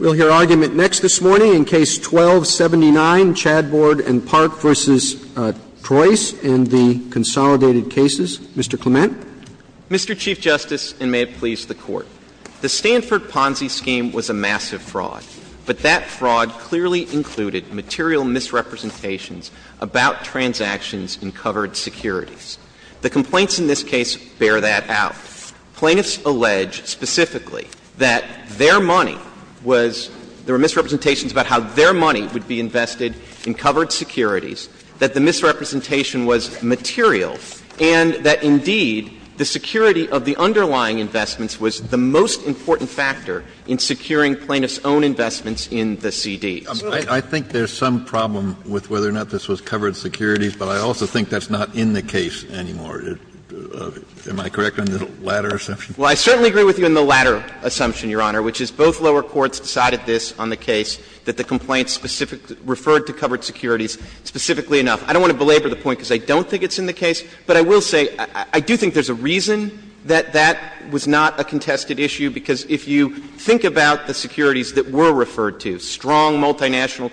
We'll hear argument next this morning in Case 12-79, Chadbourne & Parke v. Troice in the Consolidated Cases. Mr. Clement. Mr. Chief Justice, and may it please the Court, the Stanford Ponzi scheme was a massive fraud, but that fraud clearly included material misrepresentations about transactions in covered securities. The complaints in this case bear that out. Plaintiffs allege specifically that their money was — there were misrepresentations about how their money would be invested in covered securities, that the misrepresentation was material, and that, indeed, the security of the underlying investments was the most important factor in securing plaintiffs' own investments in the C.D.s. I think there's some problem with whether or not this was covered securities, but I also think that's not in the case anymore. Am I correct on the latter assumption? Well, I certainly agree with you on the latter assumption, Your Honor, which is both lower courts decided this on the case, that the complaints specific — referred to covered securities specifically enough. I don't want to belabor the point because I don't think it's in the case, but I will say I do think there's a reason that that was not a contested issue, because if you think about the securities that were referred to, strong multinational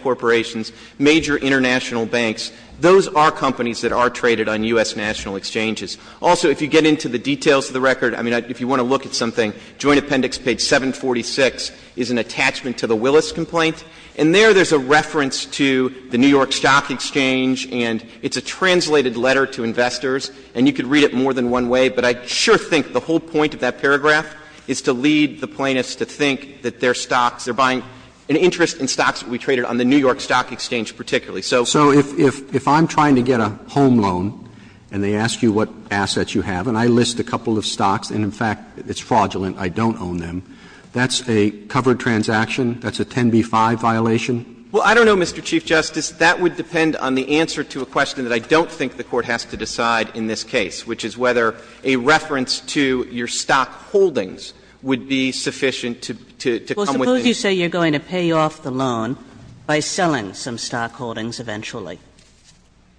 exchanges. Also, if you get into the details of the record, I mean, if you want to look at something, Joint Appendix page 746 is an attachment to the Willis complaint, and there, there's a reference to the New York Stock Exchange, and it's a translated letter to investors, and you could read it more than one way, but I sure think the whole point of that paragraph is to lead the plaintiffs to think that their stocks, they're buying an interest in stocks that would be traded on the New York Stock Exchange particularly. So if I'm trying to get a home loan and they ask you what assets you have, and I list a couple of stocks, and in fact, it's fraudulent, I don't own them, that's a covered transaction, that's a 10b-5 violation? Well, I don't know, Mr. Chief Justice. That would depend on the answer to a question that I don't think the Court has to decide in this case, which is whether a reference to your stock holdings would be sufficient to come with the need. And would you say you're going to pay off the loan by selling some stock holdings eventually?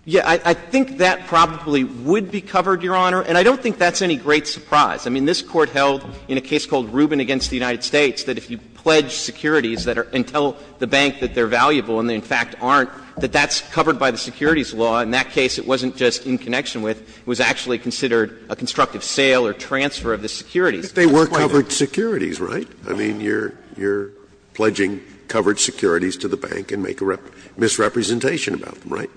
Yeah. I think that probably would be covered, Your Honor, and I don't think that's any great surprise. I mean, this Court held in a case called Rubin against the United States that if you pledge securities that are until the bank that they're valuable and they in fact aren't, that that's covered by the securities law. In that case, it wasn't just in connection with, it was actually considered a constructive sale or transfer of the securities. They were covered securities, right? I mean, you're pledging covered securities to the bank and make a misrepresentation about them, right?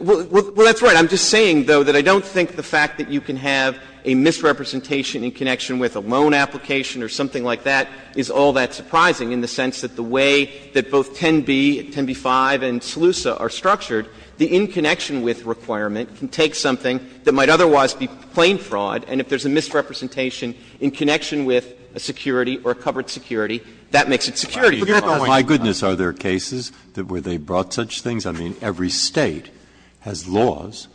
Well, that's right. I'm just saying, though, that I don't think the fact that you can have a misrepresentation in connection with a loan application or something like that is all that surprising in the sense that the way that both 10b, 10b-5 and SELUSA are structured, the in-connection-with requirement can take something that might otherwise be plain fraud, and if there's a misrepresentation in connection with a security or a covered security, that makes it security fraud. Breyer, my goodness, are there cases that where they brought such things? I mean, every State has laws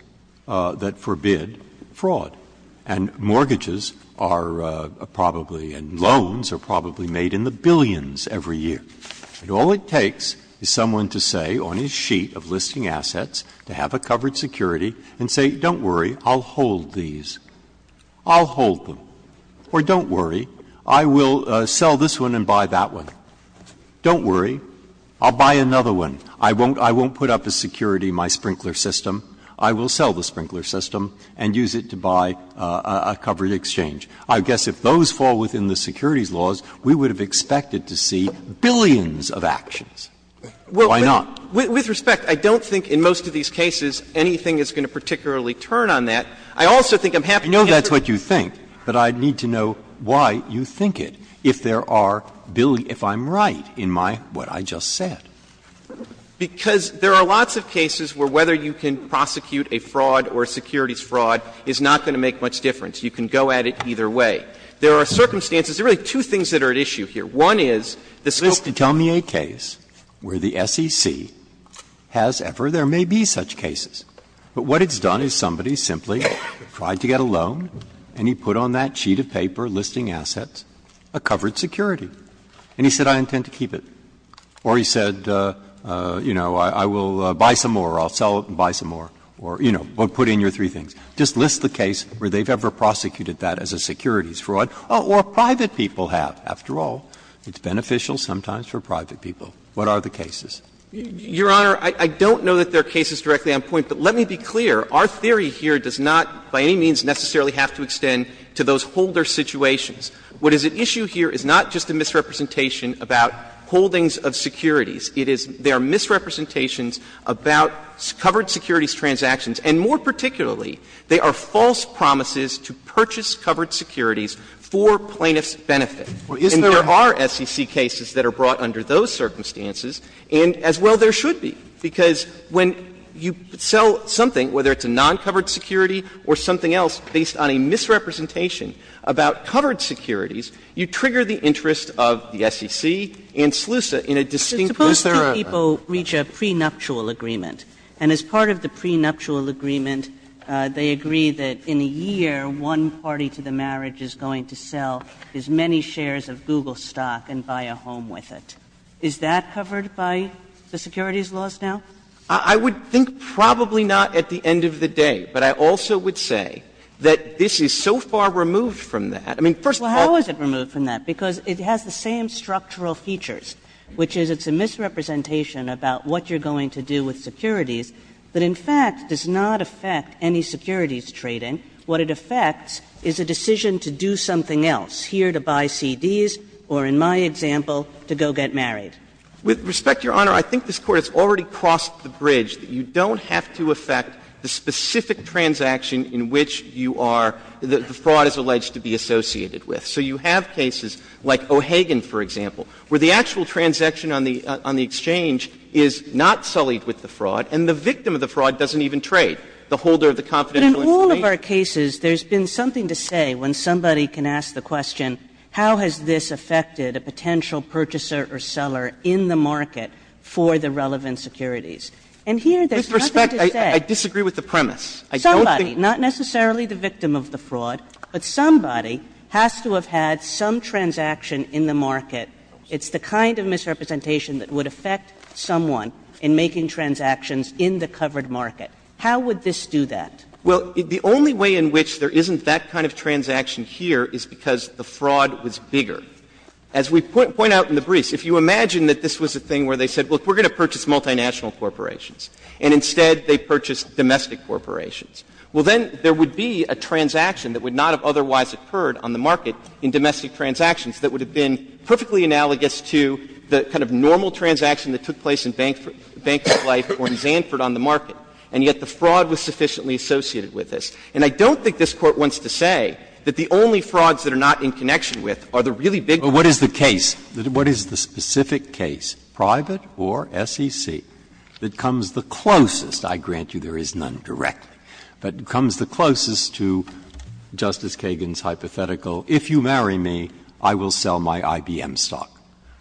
that forbid fraud, and mortgages are probably, and loans are probably made in the billions every year. And all it takes is someone to say on his sheet of listing assets to have a covered security and say, don't worry, I'll hold these. I'll hold them. Or don't worry, I will sell this one and buy that one. Don't worry, I'll buy another one. I won't put up as security my sprinkler system. I will sell the sprinkler system and use it to buy a covered exchange. I guess if those fall within the securities laws, we would have expected to see billions of actions. Why not? With respect, I don't think in most of these cases anything is going to particularly turn on that. I also think I'm happy to answer your question. Breyer, I know that's what you think, but I need to know why you think it, if there are billions, if I'm right in my, what I just said. Because there are lots of cases where whether you can prosecute a fraud or a securities fraud is not going to make much difference. You can go at it either way. There are circumstances, there are really two things that are at issue here. One is the scope of the case. Just tell me a case where the SEC has ever, there may be such cases, but what it's done is somebody simply tried to get a loan, and he put on that sheet of paper listing assets, a covered security, and he said, I intend to keep it. Or he said, you know, I will buy some more, I'll sell it and buy some more, or, you know, put in your three things. Just list the case where they've ever prosecuted that as a securities fraud, or private people have. After all, it's beneficial sometimes for private people. What are the cases? Clements. Your Honor, I don't know that there are cases directly on point, but let me be clear. Our theory here does not by any means necessarily have to extend to those holder situations. What is at issue here is not just a misrepresentation about holdings of securities. It is there are misrepresentations about covered securities transactions, and more particularly, they are false promises to purchase covered securities for plaintiff's benefit. And there are SEC cases that are brought under those circumstances. And as well, there should be, because when you sell something, whether it's a non-covered security or something else based on a misrepresentation about covered securities, you trigger the interest of the SEC and SLUSA in a distinctly different way. Suppose that people reach a prenuptial agreement, and as part of the prenuptial agreement, they agree that in a year, one party to the marriage is going to sell as many shares of Google stock and buy a home with it. Is that covered by the securities laws now? Clements. I would think probably not at the end of the day, but I also would say that this is so far removed from that. I mean, first of all, Well, how is it removed from that? Because it has the same structural features, which is it's a misrepresentation about what you're going to do with securities that, in fact, does not affect any securities trading. What it affects is a decision to do something else, here to buy CDs or, in my example, to go get married. With respect, Your Honor, I think this Court has already crossed the bridge. You don't have to affect the specific transaction in which you are the fraud is alleged to be associated with. So you have cases like O'Hagan, for example, where the actual transaction on the exchange is not sullied with the fraud, and the victim of the fraud doesn't even trade. The holder of the confidential information But in all of our cases, there's been something to say when somebody can ask the question, how has this affected a potential purchaser or seller in the market for the relevant securities? And here there's nothing to say. With respect, I disagree with the premise. Somebody, not necessarily the victim of the fraud, but somebody has to have had some transaction in the market. It's the kind of misrepresentation that would affect someone in making transactions in the covered market. How would this do that? Well, the only way in which there isn't that kind of transaction here is because the fraud was bigger. As we point out in the briefs, if you imagine that this was a thing where they said, look, we're going to purchase multinational corporations, and instead they purchased domestic corporations, well, then there would be a transaction that would not have otherwise occurred on the market in domestic transactions that would have been perfectly analogous to the kind of normal transaction that took place in Bank of Life or in Zanford on the market, and yet the fraud was sufficiently associated with this. And I don't think this Court wants to say that the only frauds that are not in connection with are the really big ones. Breyer. But what is the case? What is the specific case, private or SEC, that comes the closest? I grant you there is none directly, but comes the closest to Justice Kagan's hypothetical, if you marry me, I will sell my IBM stock.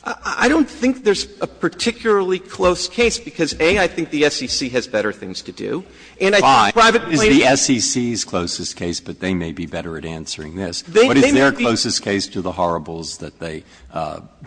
I don't think there's a particularly close case, because, A, I think the SEC has better things to do. And I think private plainly has better things to do. Roberts. They may be the SEC's closest case, but they may be better at answering this. They may be. What is their closest case to the horribles that they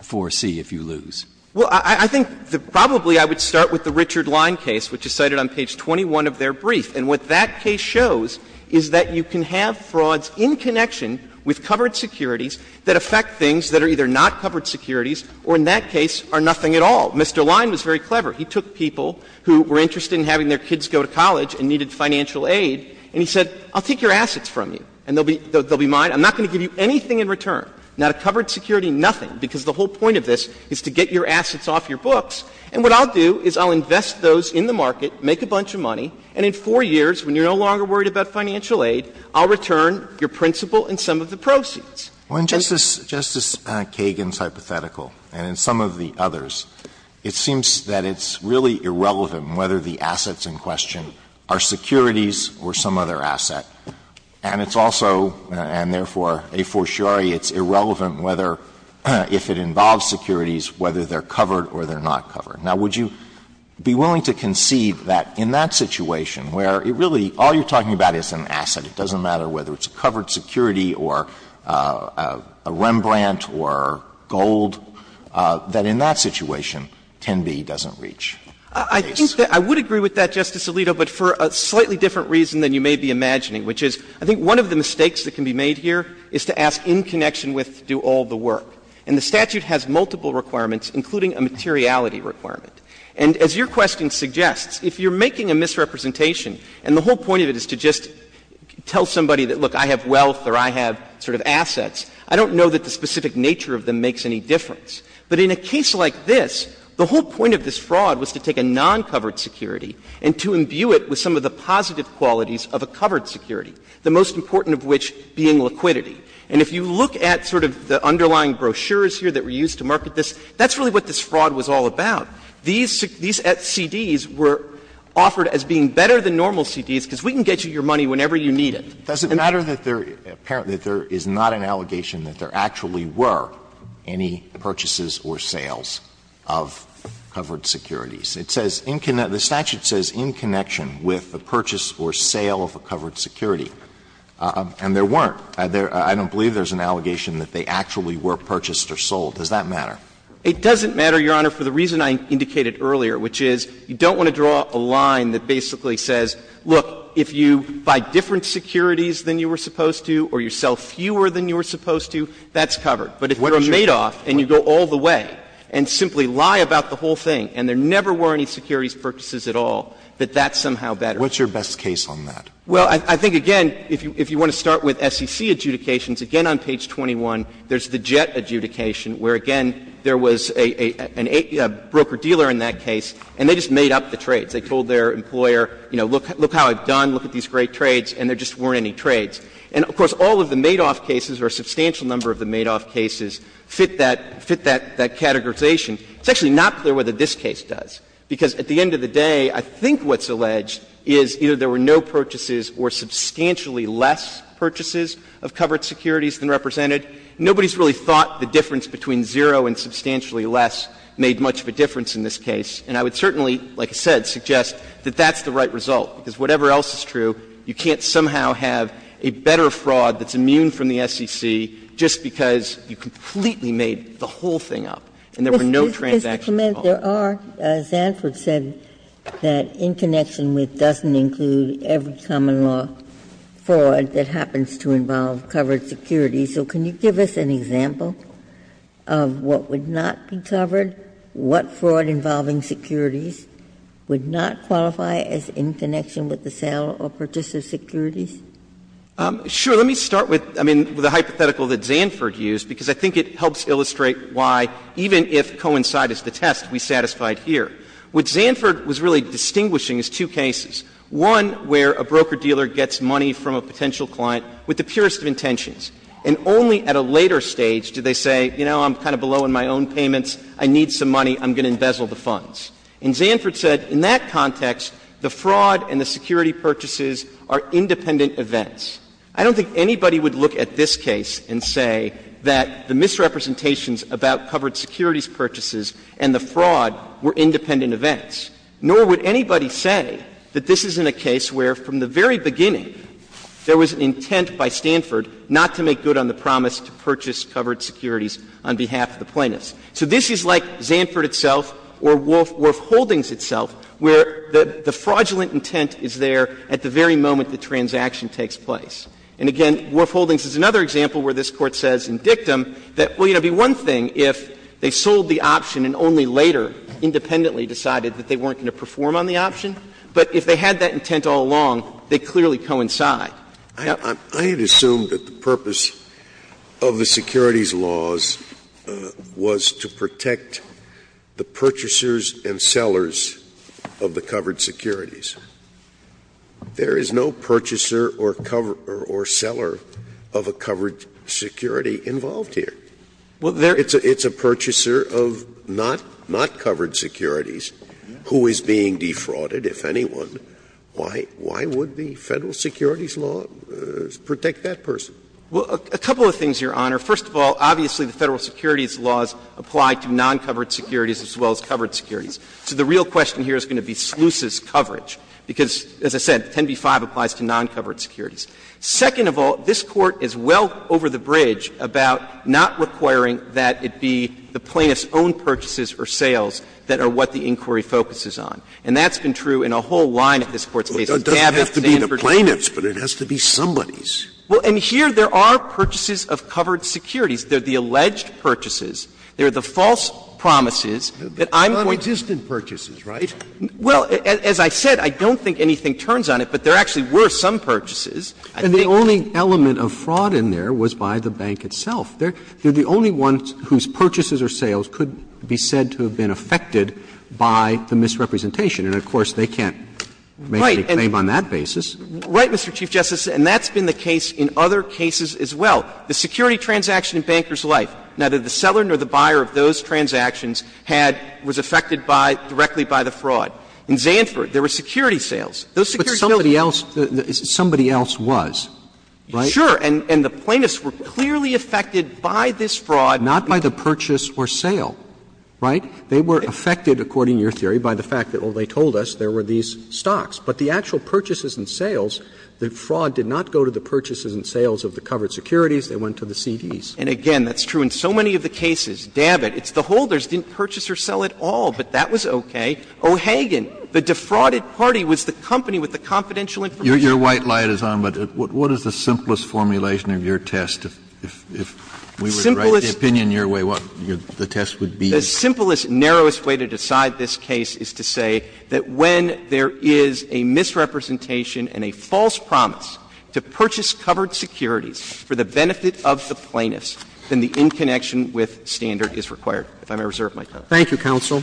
foresee if you lose? Well, I think probably I would start with the Richard Line case, which is cited on page 21 of their brief. And what that case shows is that you can have frauds in connection with covered securities that affect things that are either not covered securities or in that case are nothing at all. Mr. Line was very clever. He took people who were interested in having their kids go to college and needed financial aid, and he said, I'll take your assets from you, and they'll be mine. I'm not going to give you anything in return, not a covered security, nothing, because the whole point of this is to get your assets off your books. And what I'll do is I'll invest those in the market, make a bunch of money, and in four years, when you're no longer worried about financial aid, I'll return your principal and some of the proceeds. Alitoso, in Justice Kagan's hypothetical and in some of the others, it seems that it's really irrelevant whether the assets in question are securities or some other asset. And it's also, and therefore a fortiori, it's irrelevant whether — if it involves securities, whether they're covered or they're not covered. Now, would you be willing to concede that in that situation where it really — all you're talking about is an asset. It doesn't matter whether it's a covered security or a Rembrandt or gold, that in that situation, 10b doesn't reach the case? I think that — I would agree with that, Justice Alito, but for a slightly different reason than you may be imagining, which is I think one of the mistakes that can be made here is to ask in connection with do all the work. And the statute has multiple requirements, including a materiality requirement. And as your question suggests, if you're making a misrepresentation, and the whole point of it is to just tell somebody that, look, I have wealth or I have sort of assets, I don't know that the specific nature of them makes any difference. But in a case like this, the whole point of this fraud was to take a non-covered security and to imbue it with some of the positive qualities of a covered security, the most important of which being liquidity. And if you look at sort of the underlying brochures here that were used to market this, that's really what this fraud was all about. These CDs were offered as being better than normal CDs because we can get you your money whenever you need it. Alito, does it matter that there is not an allegation that there actually were any purchases or sales of covered securities? It says in — the statute says in connection with the purchase or sale of a covered security, and there weren't. I don't believe there's an allegation that they actually were purchased or sold. Does that matter? It doesn't matter, Your Honor, for the reason I indicated earlier, which is you don't want to draw a line that basically says, look, if you buy different securities than you were supposed to or you sell fewer than you were supposed to, that's covered. But if you're a Madoff and you go all the way and simply lie about the whole thing and there never were any securities purchases at all, that that's somehow better. What's your best case on that? Well, I think, again, if you want to start with SEC adjudications, again on page 21, there's the Jett adjudication, where, again, there was a broker-dealer in that case, and they just made up the trades. They told their employer, you know, look how I've done, look at these great trades, and there just weren't any trades. And, of course, all of the Madoff cases or a substantial number of the Madoff cases fit that categorization. It's actually not clear whether this case does, because at the end of the day, I think what's alleged is either there were no purchases or substantially less purchases of covered securities than represented. Nobody's really thought the difference between zero and substantially less made much of a difference in this case. And I would certainly, like I said, suggest that that's the right result, because whatever else is true, you can't somehow have a better fraud that's immune from the SEC just because you completely made the whole thing up and there were no transactions at all. Ginsburg. Ginsburg. There are, as Zanford said, that in connection with doesn't include every common law fraud that happens to involve covered securities. So can you give us an example of what would not be covered, what fraud involving securities would not qualify as in connection with the sale or purchase of securities? Clemente, let me start with, I mean, the hypothetical that Zanford used, because I think it helps illustrate why, even if coincide is the test, we satisfied here. What Zanford was really distinguishing is two cases, one where a broker-dealer gets money from a potential client with the purest of intentions, and only at a later stage do they say, you know, I'm kind of below in my own payments, I need some money, I'm going to embezzle the funds. And Zanford said in that context, the fraud and the security purchases are independent events. I don't think anybody would look at this case and say that the misrepresentations about covered securities purchases and the fraud were independent events. Nor would anybody say that this isn't a case where from the very beginning there was an intent by Stanford not to make good on the promise to purchase covered securities on behalf of the plaintiffs. So this is like Zanford itself or Wolf Holdings itself, where the fraudulent intent is there at the very moment the transaction takes place. And again, Wolf Holdings is another example where this Court says in dictum that, well, you know, it would be one thing if they sold the option and only later independently decided that they weren't going to perform on the option, but if they had that intent all along, they clearly coincide. Scalia. I had assumed that the purpose of the securities laws was to protect the purchasers and sellers of the covered securities. There is no purchaser or seller of a covered security involved here. It's a purchaser of not covered securities who is being defrauded, if anyone. Why would the Federal securities law protect that person? Well, a couple of things, Your Honor. First of all, obviously the Federal securities laws apply to non-covered securities as well as covered securities. So the real question here is going to be sluices coverage, because as I said, 10b-5 applies to non-covered securities. Second of all, this Court is well over the bridge about not requiring that it be the plaintiffs' own purchases or sales that are what the inquiry focuses on. And that's been true in a whole line of this Court's cases. Scalia. It doesn't have to be the plaintiff's, but it has to be somebody's. Well, and here there are purchases of covered securities. They are the alleged purchases. They are the false promises that I'm going to go to court with the plaintiff's But they're non-existent purchases, right? Well, as I said, I don't think anything turns on it, but there actually were some purchases. I think the only element of fraud in there was by the bank itself. They're the only ones whose purchases or sales could be said to have been affected by the misrepresentation. And of course, they can't make any claim on that basis. Right, Mr. Chief Justice, and that's been the case in other cases as well. The security transaction in Banker's Life, neither the seller nor the buyer of those transactions had was affected by, directly by the fraud. In Zandford, there were security sales. Those security sales. But somebody else, somebody else was, right? Sure. And the plaintiffs were clearly affected by this fraud. Not by the purchase or sale, right? They were affected, according to your theory, by the fact that, well, they told us there were these stocks. But the actual purchases and sales, the fraud did not go to the purchases and sales of the covered securities, they went to the CDs. And again, that's true in so many of the cases. Dabbitt, it's the holders, didn't purchase or sell at all, but that was okay. O'Hagan, the defrauded party was the company with the confidential information. Your white light is on, but what is the simplest formulation of your test if we were to write the opinion your way, what the test would be? The simplest, narrowest way to decide this case is to say that when there is a misrepresentation and a false promise to purchase covered securities for the benefit of the plaintiffs, then the in-connection with standard is required. If I may reserve my time. Thank you, counsel.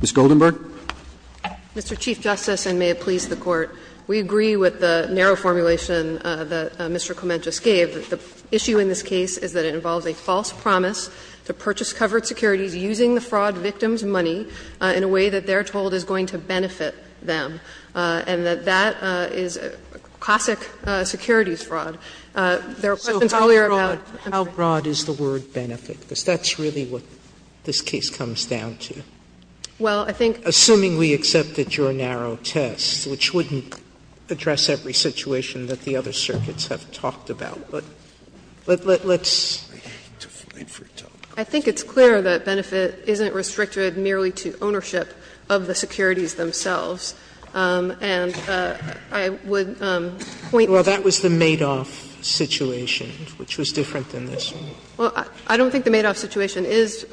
Ms. Goldenberg. Goldenberg. Mr. Chief Justice, and may it please the Court, we agree with the narrow formulation that Mr. Clement just gave. The issue in this case is that it involves a false promise to purchase covered securities using the fraud victim's money in a way that they're told is going to benefit them, and that that is classic securities fraud. There were questions earlier about the country's fraud. Sotomayor, how broad is the word benefit, because that's really what this case comes down to? Well, I think Assuming we accepted your narrow test, which wouldn't address every situation that the other circuits have talked about, but let's wait for it to open. I think it's clear that benefit isn't restricted merely to ownership of the securities themselves, and I would point to the fact that the benefit is restricted to ownership. Well, that was the Madoff situation, which was different than this one. Well, I don't think the Madoff situation is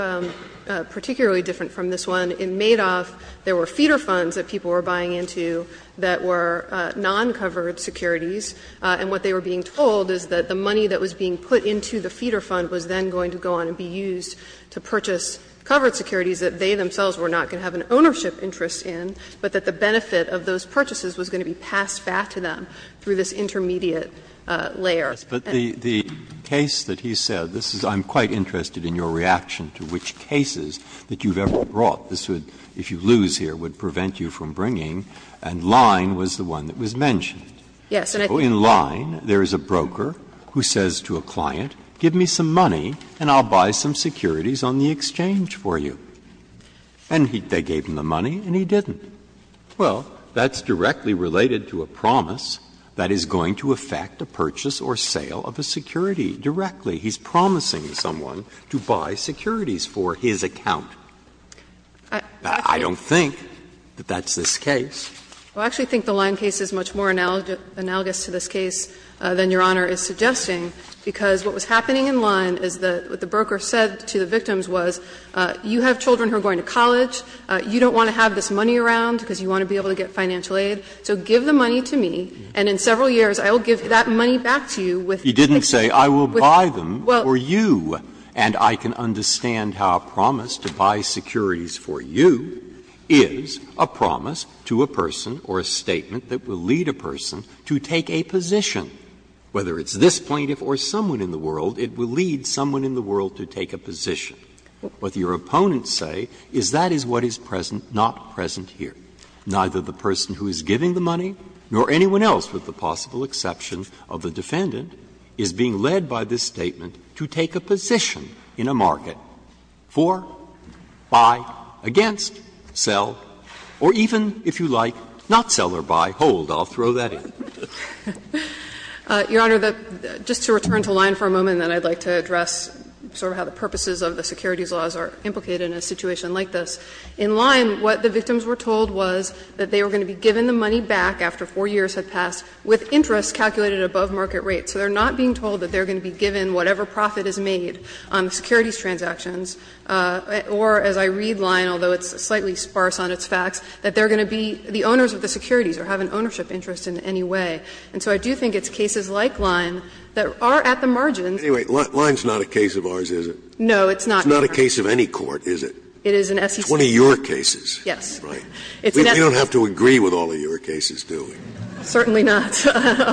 particularly different from this one. In Madoff, there were feeder funds that people were buying into that were non-covered securities, and what they were being told is that the money that was being put into the feeder fund was then going to go on and be used to purchase covered securities that they themselves were not going to have an ownership interest in, but that the benefit of those purchases was going to be passed back to them through this intermediate layer. Breyer. But the case that he said, this is — I'm quite interested in your reaction to which cases that you've ever brought. This would, if you lose here, would prevent you from bringing, and Line was the one that was mentioned. Yes. In Line, there is a broker who says to a client, give me some money and I'll buy some securities on the exchange for you. And they gave him the money and he didn't. Well, that's directly related to a promise that is going to affect a purchase or sale of a security directly. He's promising someone to buy securities for his account. I don't think that that's this case. I actually think the Line case is much more analogous to this case than Your Honor is suggesting, because what was happening in Line is that what the broker said to the victims was, you have children who are going to college, you don't want to have this money around because you want to be able to get financial aid, so give the money to me and in several years I will give that money back to you with the exchange. You didn't say, I will buy them for you, and I can understand how a promise to buy securities for you is a promise to a person or a statement that will lead a person to take a position, whether it's this plaintiff or someone in the world, it will lead someone in the world to take a position. What your opponents say is that is what is present, not present here. Neither the person who is giving the money nor anyone else, with the possible exception of the defendant, is being led by this statement to take a position in a market for, buy, against, sell, or even, if you like, not sell or buy, hold. I'll throw that in. Your Honor, just to return to Lyon for a moment, and then I'd like to address sort of how the purposes of the securities laws are implicated in a situation like this. In Lyon, what the victims were told was that they were going to be given the money back after 4 years had passed with interest calculated above market rates. So they are not being told that they are going to be given whatever profit is made on securities transactions, or as I read Lyon, although it's slightly sparse on its facts, that they are going to be the owners of the securities or have an ownership interest in any way. And so I do think it's cases like Lyon that are at the margins. Scalia, anyway, Lyon is not a case of ours, is it? No, it's not. It's not a case of any court, is it? It is an SEC. 20-year cases. Yes. Right. We don't have to agree with all of your cases, do we? Certainly not.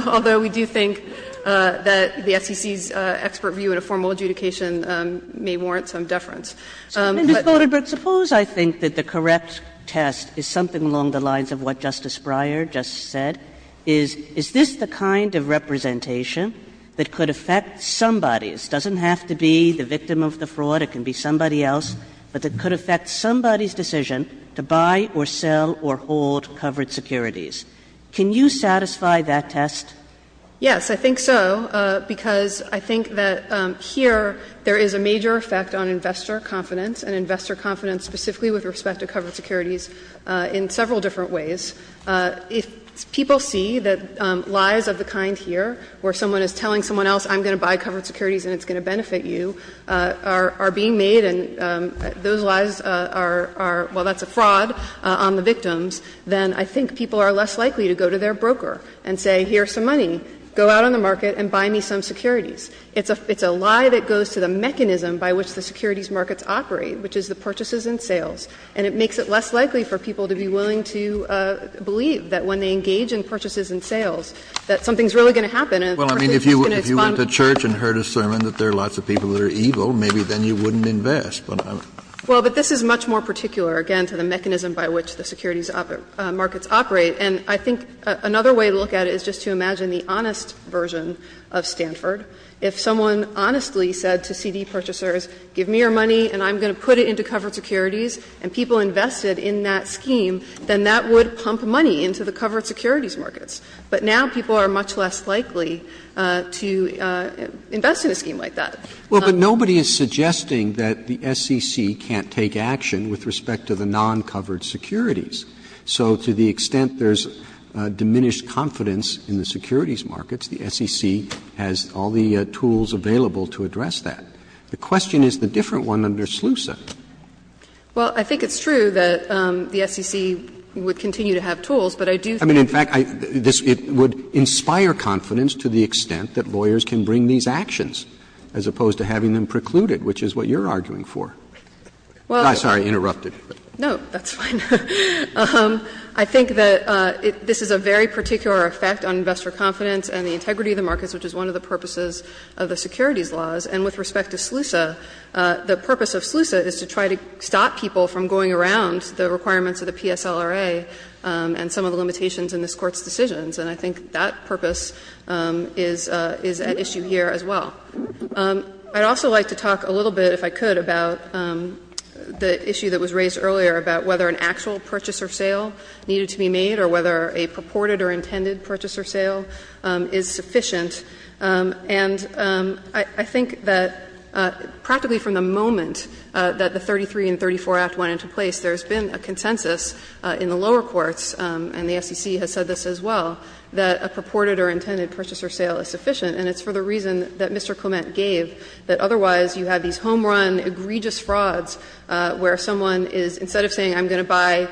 Although we do think that the SEC's expert view in a formal adjudication may warrant some deference. But. Kagan, but suppose I think that the correct test is something along the lines of what you just said, is, is this the kind of representation that could affect somebody's doesn't have to be the victim of the fraud, it can be somebody else, but that could affect somebody's decision to buy or sell or hold covered securities. Can you satisfy that test? Yes, I think so, because I think that here there is a major effect on investor confidence, and investor confidence specifically with respect to covered securities in several different ways. If people see that lies of the kind here, where someone is telling someone else I'm going to buy covered securities and it's going to benefit you, are being made and those lies are, well, that's a fraud on the victims, then I think people are less likely to go to their broker and say, here's some money, go out on the market and buy me some securities. It's a lie that goes to the mechanism by which the securities markets operate, which is the purchases and sales. And it makes it less likely for people to be willing to believe that when they engage in purchases and sales, that something is really going to happen and the person is going to expunge. Kennedy, if you went to church and heard a sermon that there are lots of people that are evil, maybe then you wouldn't invest. Well, but this is much more particular, again, to the mechanism by which the securities markets operate. And I think another way to look at it is just to imagine the honest version of Stanford. If someone honestly said to CD purchasers, give me your money and I'm going to put it into covered securities, and people invested in that scheme, then that would pump money into the covered securities markets. But now people are much less likely to invest in a scheme like that. Well, but nobody is suggesting that the SEC can't take action with respect to the non-covered securities. So to the extent there's diminished confidence in the securities markets, the SEC has all the tools available to address that. The question is the different one under SLUSA. Well, I think it's true that the SEC would continue to have tools, but I do think that this would inspire confidence to the extent that lawyers can bring these actions, as opposed to having them precluded, which is what you're arguing for. I'm sorry, I interrupted. No, that's fine. I think that this is a very particular effect on investor confidence and the integrity of the markets, which is one of the purposes of the securities laws, and with respect to SLUSA, the purpose of SLUSA is to try to stop people from going around the requirements of the PSLRA and some of the limitations in this Court's decisions. And I think that purpose is at issue here as well. I'd also like to talk a little bit, if I could, about the issue that was raised earlier about whether an actual purchase or sale needed to be made or whether a purported or intended purchase or sale is sufficient. And I think that practically from the moment that the 33 and 34 Act went into place, there's been a consensus in the lower courts, and the SEC has said this as well, that a purported or intended purchase or sale is sufficient. And it's for the reason that Mr. Clement gave, that otherwise you have these home run, egregious frauds where someone is, instead of saying I'm going to buy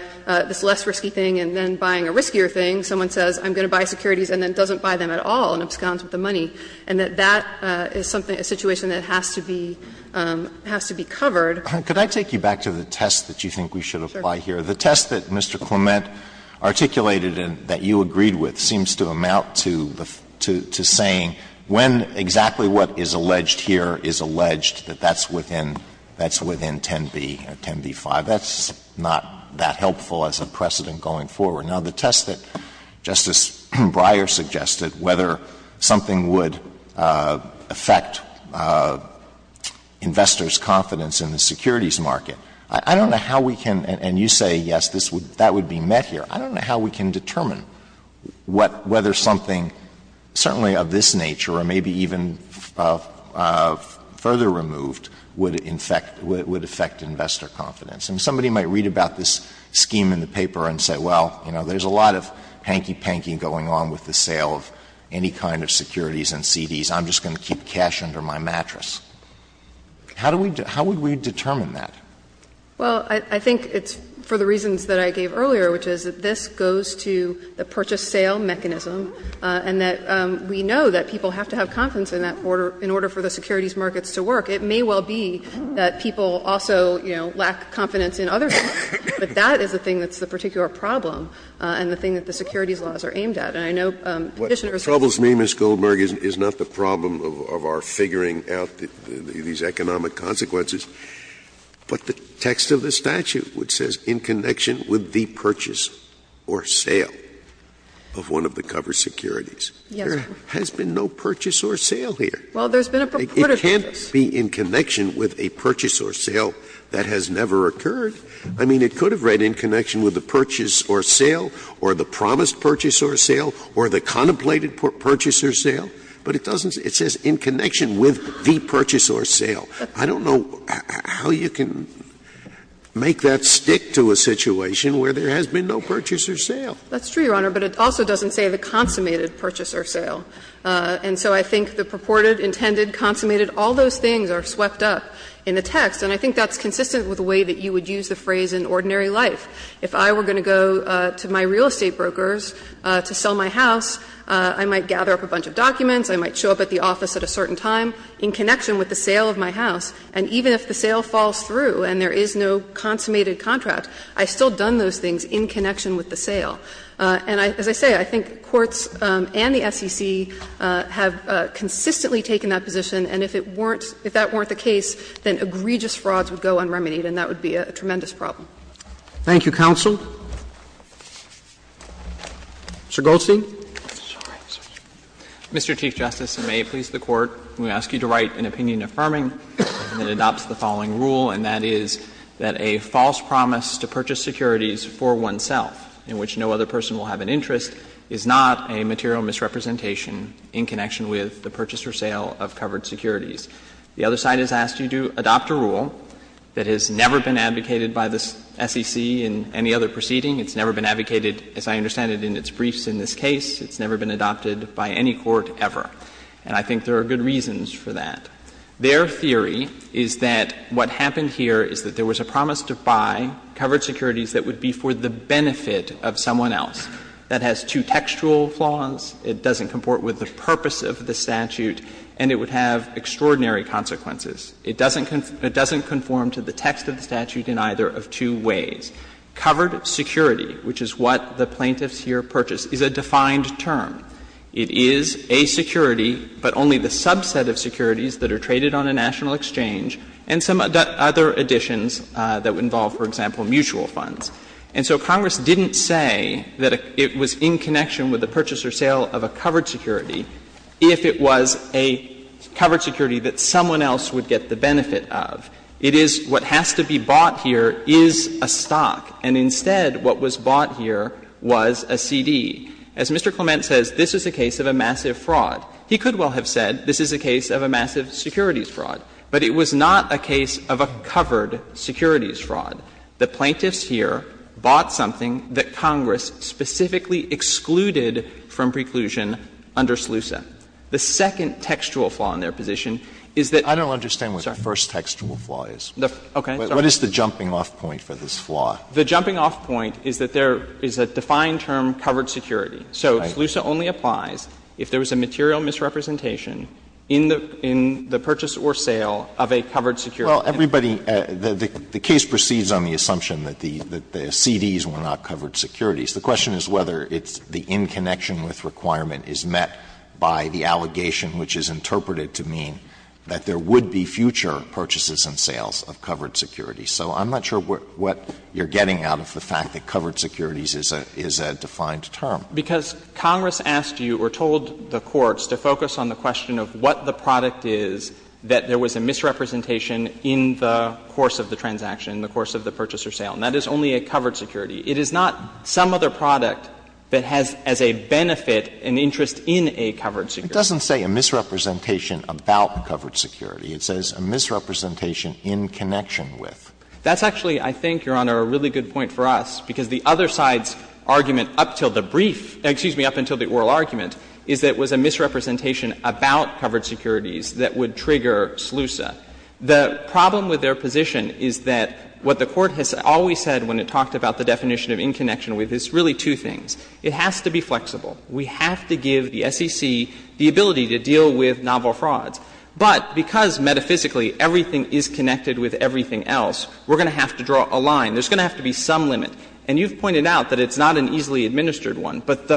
this less risky thing and then buying a riskier thing, someone says I'm going to buy securities and then doesn't buy them at all and absconds with the money, and that that is something a situation that has to be, has to be covered. Alito, could I take you back to the test that you think we should apply here? The test that Mr. Clement articulated and that you agreed with seems to amount to saying when exactly what is alleged here is alleged, that that's within, that's within 10b, 10b-5. That's not that helpful as a precedent going forward. Now, the test that Justice Breyer suggested, whether something would affect investors' confidence in the securities market, I don't know how we can, and you say, yes, that would be met here. I don't know how we can determine what, whether something certainly of this nature or maybe even further removed would affect, would affect investor confidence. I mean, somebody might read about this scheme in the paper and say, well, you know, there's a lot of hanky-panky going on with the sale of any kind of securities and CDs. I'm just going to keep cash under my mattress. How do we, how would we determine that? Well, I think it's for the reasons that I gave earlier, which is that this goes to the purchase-sale mechanism, and that we know that people have to have confidence in that order, in order for the securities markets to work. It may well be that people also, you know, lack confidence in other things, but that is the thing that's the particular problem and the thing that the securities laws are aimed at. And I know Petitioner is saying that. Scalia What troubles me, Ms. Goldberg, is not the problem of our figuring out these economic consequences, but the text of the statute which says, in connection with the purchase or sale of one of the covered securities. There has been no purchase or sale here. Goldberg Well, there's been a purported purchase. Scalia But it doesn't say it's been in connection with a purchase or sale that has never occurred. I mean, it could have read in connection with the purchase or sale, or the promised purchase or sale, or the contemplated purchase or sale, but it doesn't say, it says in connection with the purchase or sale. I don't know how you can make that stick to a situation where there has been no purchase or sale. Goldberg That's true, Your Honor, but it also doesn't say the consummated purchase or sale. And so I think the purported, intended, consummated, all those things are swept up in the text. And I think that's consistent with the way that you would use the phrase in ordinary life. If I were going to go to my real estate brokers to sell my house, I might gather up a bunch of documents, I might show up at the office at a certain time in connection with the sale of my house, and even if the sale falls through and there is no consummated contract, I've still done those things in connection with the sale. And as I say, I think courts and the SEC have consistently taken that position, and if it weren't, if that weren't the case, then egregious frauds would go unremitied, and that would be a tremendous problem. Roberts Thank you, counsel. Mr. Goldstein. Goldstein Mr. Chief Justice, and may it please the Court, I'm going to ask you to write an opinion affirming that adopts the following rule, and that is that a false promise to purchase securities for oneself, in which no other person will have an interest, is not a material misrepresentation in connection with the purchase or sale of covered securities. The other side has asked you to adopt a rule that has never been advocated by the SEC in any other proceeding. It's never been advocated, as I understand it, in its briefs in this case. It's never been adopted by any court ever. And I think there are good reasons for that. Their theory is that what happened here is that there was a promise to buy covered securities that would be for the benefit of someone else. That has two textual flaws. It doesn't comport with the purpose of the statute, and it would have extraordinary consequences. It doesn't conform to the text of the statute in either of two ways. Covered security, which is what the plaintiffs here purchased, is a defined term. It is a security, but only the subset of securities that are traded on a national exchange and some other additions that involve, for example, mutual funds. And so Congress didn't say that it was in connection with the purchase or sale of a covered security if it was a covered security that someone else would get the benefit of. It is what has to be bought here is a stock, and instead what was bought here was a CD. As Mr. Clement says, this is a case of a massive fraud. He could well have said this is a case of a massive securities fraud. But it was not a case of a covered securities fraud. The plaintiffs here bought something that Congress specifically excluded from preclusion under SLUSA. The second textual flaw in their position is that the first textual flaw is. What is the jumping off point for this flaw? The jumping off point is that there is a defined term, covered security. So SLUSA only applies if there was a material misrepresentation in the purchase or sale of a covered security. Alito, the case proceeds on the assumption that the CDs were not covered securities. The question is whether it's the in connection with requirement is met by the allegation which is interpreted to mean that there would be future purchases and sales of covered securities. So I'm not sure what you're getting out of the fact that covered securities is a defined term. Because Congress asked you or told the courts to focus on the question of what the product is, that there was a misrepresentation in the course of the transaction, in the course of the purchase or sale. And that is only a covered security. It is not some other product that has as a benefit an interest in a covered security. Alito, it doesn't say a misrepresentation about covered security. It says a misrepresentation in connection with. That's actually, I think, Your Honor, a really good point for us, because the other side's argument up until the brief — excuse me, up until the oral argument is that it was a misrepresentation about covered securities that would trigger SLUSA. The problem with their position is that what the Court has always said when it talked about the definition of in connection with is really two things. It has to be flexible. We have to give the SEC the ability to deal with novel frauds. But because metaphysically everything is connected with everything else, we're going to have to draw a line. There's going to have to be some limit. And you've pointed out that it's not an easily administered one. But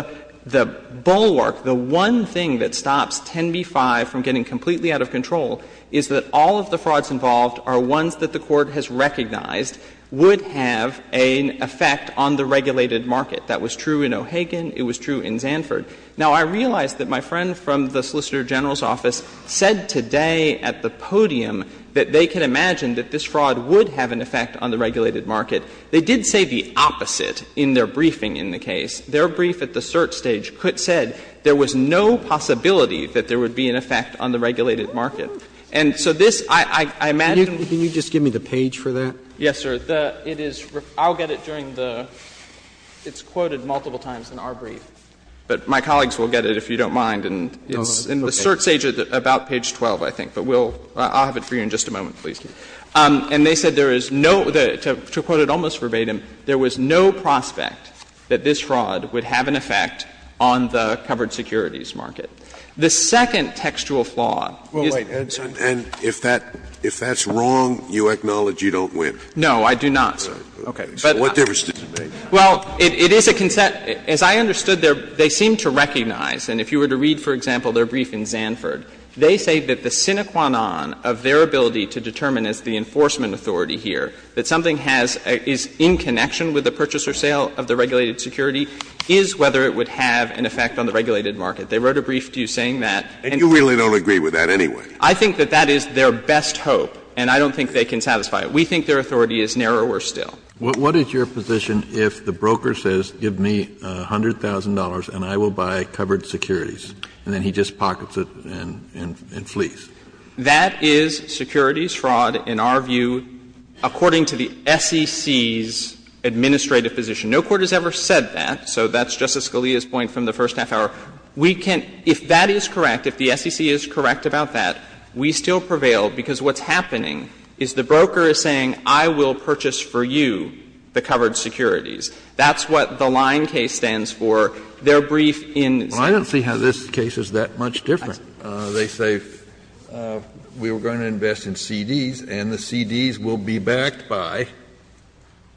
the bulwark, the one thing that stops 10b-5 from getting completely out of control is that all of the frauds involved are ones that the Court has recognized would have an effect on the regulated market. That was true in O'Hagan. It was true in Zanford. Now, I realize that my friend from the Solicitor General's office said today at the podium that they can imagine that this fraud would have an effect on the regulated market. They did say the opposite in their briefing in the case. Their brief at the cert stage said there was no possibility that there would be an effect on the regulated market. And so this, I imagine — Can you just give me the page for that? Yes, sir. It is — I'll get it during the — it's quoted multiple times in our brief. But my colleagues will get it if you don't mind. And it's in the cert stage about page 12, I think. But we'll — I'll have it for you in just a moment, please. And they said there is no — to quote it almost verbatim, there was no prospect that this fraud would have an effect on the covered securities market. The second textual flaw is — And if that — if that's wrong, you acknowledge you don't win? No, I do not, sir. Okay. But — What difference does it make? Well, it is a — as I understood, they seem to recognize, and if you were to read, for example, their brief in Zanford, they say that the sine qua non of their ability to determine as the enforcement authority here that something has — is in connection with the purchase or sale of the regulated security is whether it would have an effect on the regulated market. They wrote a brief to you saying that. And you really don't agree with that anyway? I think that that is their best hope, and I don't think they can satisfy it. We think their authority is narrower still. What is your position if the broker says, give me $100,000 and I will buy covered securities, and then he just pockets it and flees? That is securities fraud, in our view, according to the SEC's administrative position. No court has ever said that, so that's Justice Scalia's point from the first half hour. We can — if that is correct, if the SEC is correct about that, we still prevail, because what's happening is the broker is saying, I will purchase for you the covered securities. That's what the Lyon case stands for. Their brief in Zanford. Well, I don't see how this case is that much different. They say, we were going to invest in CDs, and the CDs will be backed by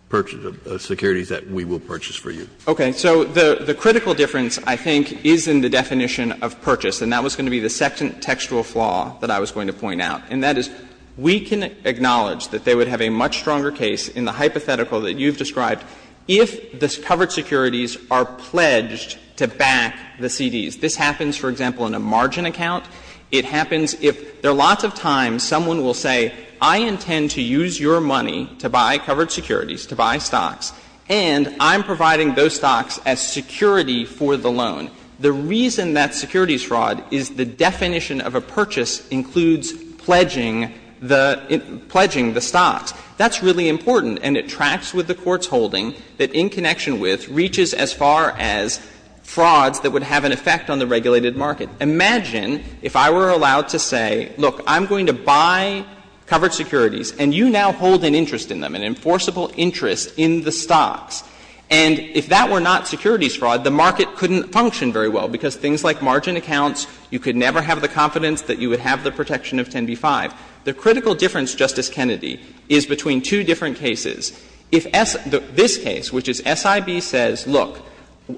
purchases of securities that we will purchase for you. Okay. So the critical difference, I think, is in the definition of purchase, and that was going to be the second textual flaw that I was going to point out, and that is we can acknowledge that they would have a much stronger case in the hypothetical that you've described if the covered securities are pledged to back the CDs. This happens, for example, in a margin account. It happens if there are lots of times someone will say, I intend to use your money to buy covered securities, to buy stocks, and I'm providing those stocks as security for the loan. The reason that's securities fraud is the definition of a purchase includes pledging the — pledging the stocks. That's really important, and it tracks with the court's holding that in connection with, reaches as far as frauds that would have an effect on the regulated market. Imagine if I were allowed to say, look, I'm going to buy covered securities, and you now hold an interest in them, an enforceable interest in the stocks. And if that were not securities fraud, the market couldn't function very well, because things like margin accounts, you could never have the confidence that you would have the protection of 10b-5. The critical difference, Justice Kennedy, is between two different cases. If S — this case, which is SIB, says, look,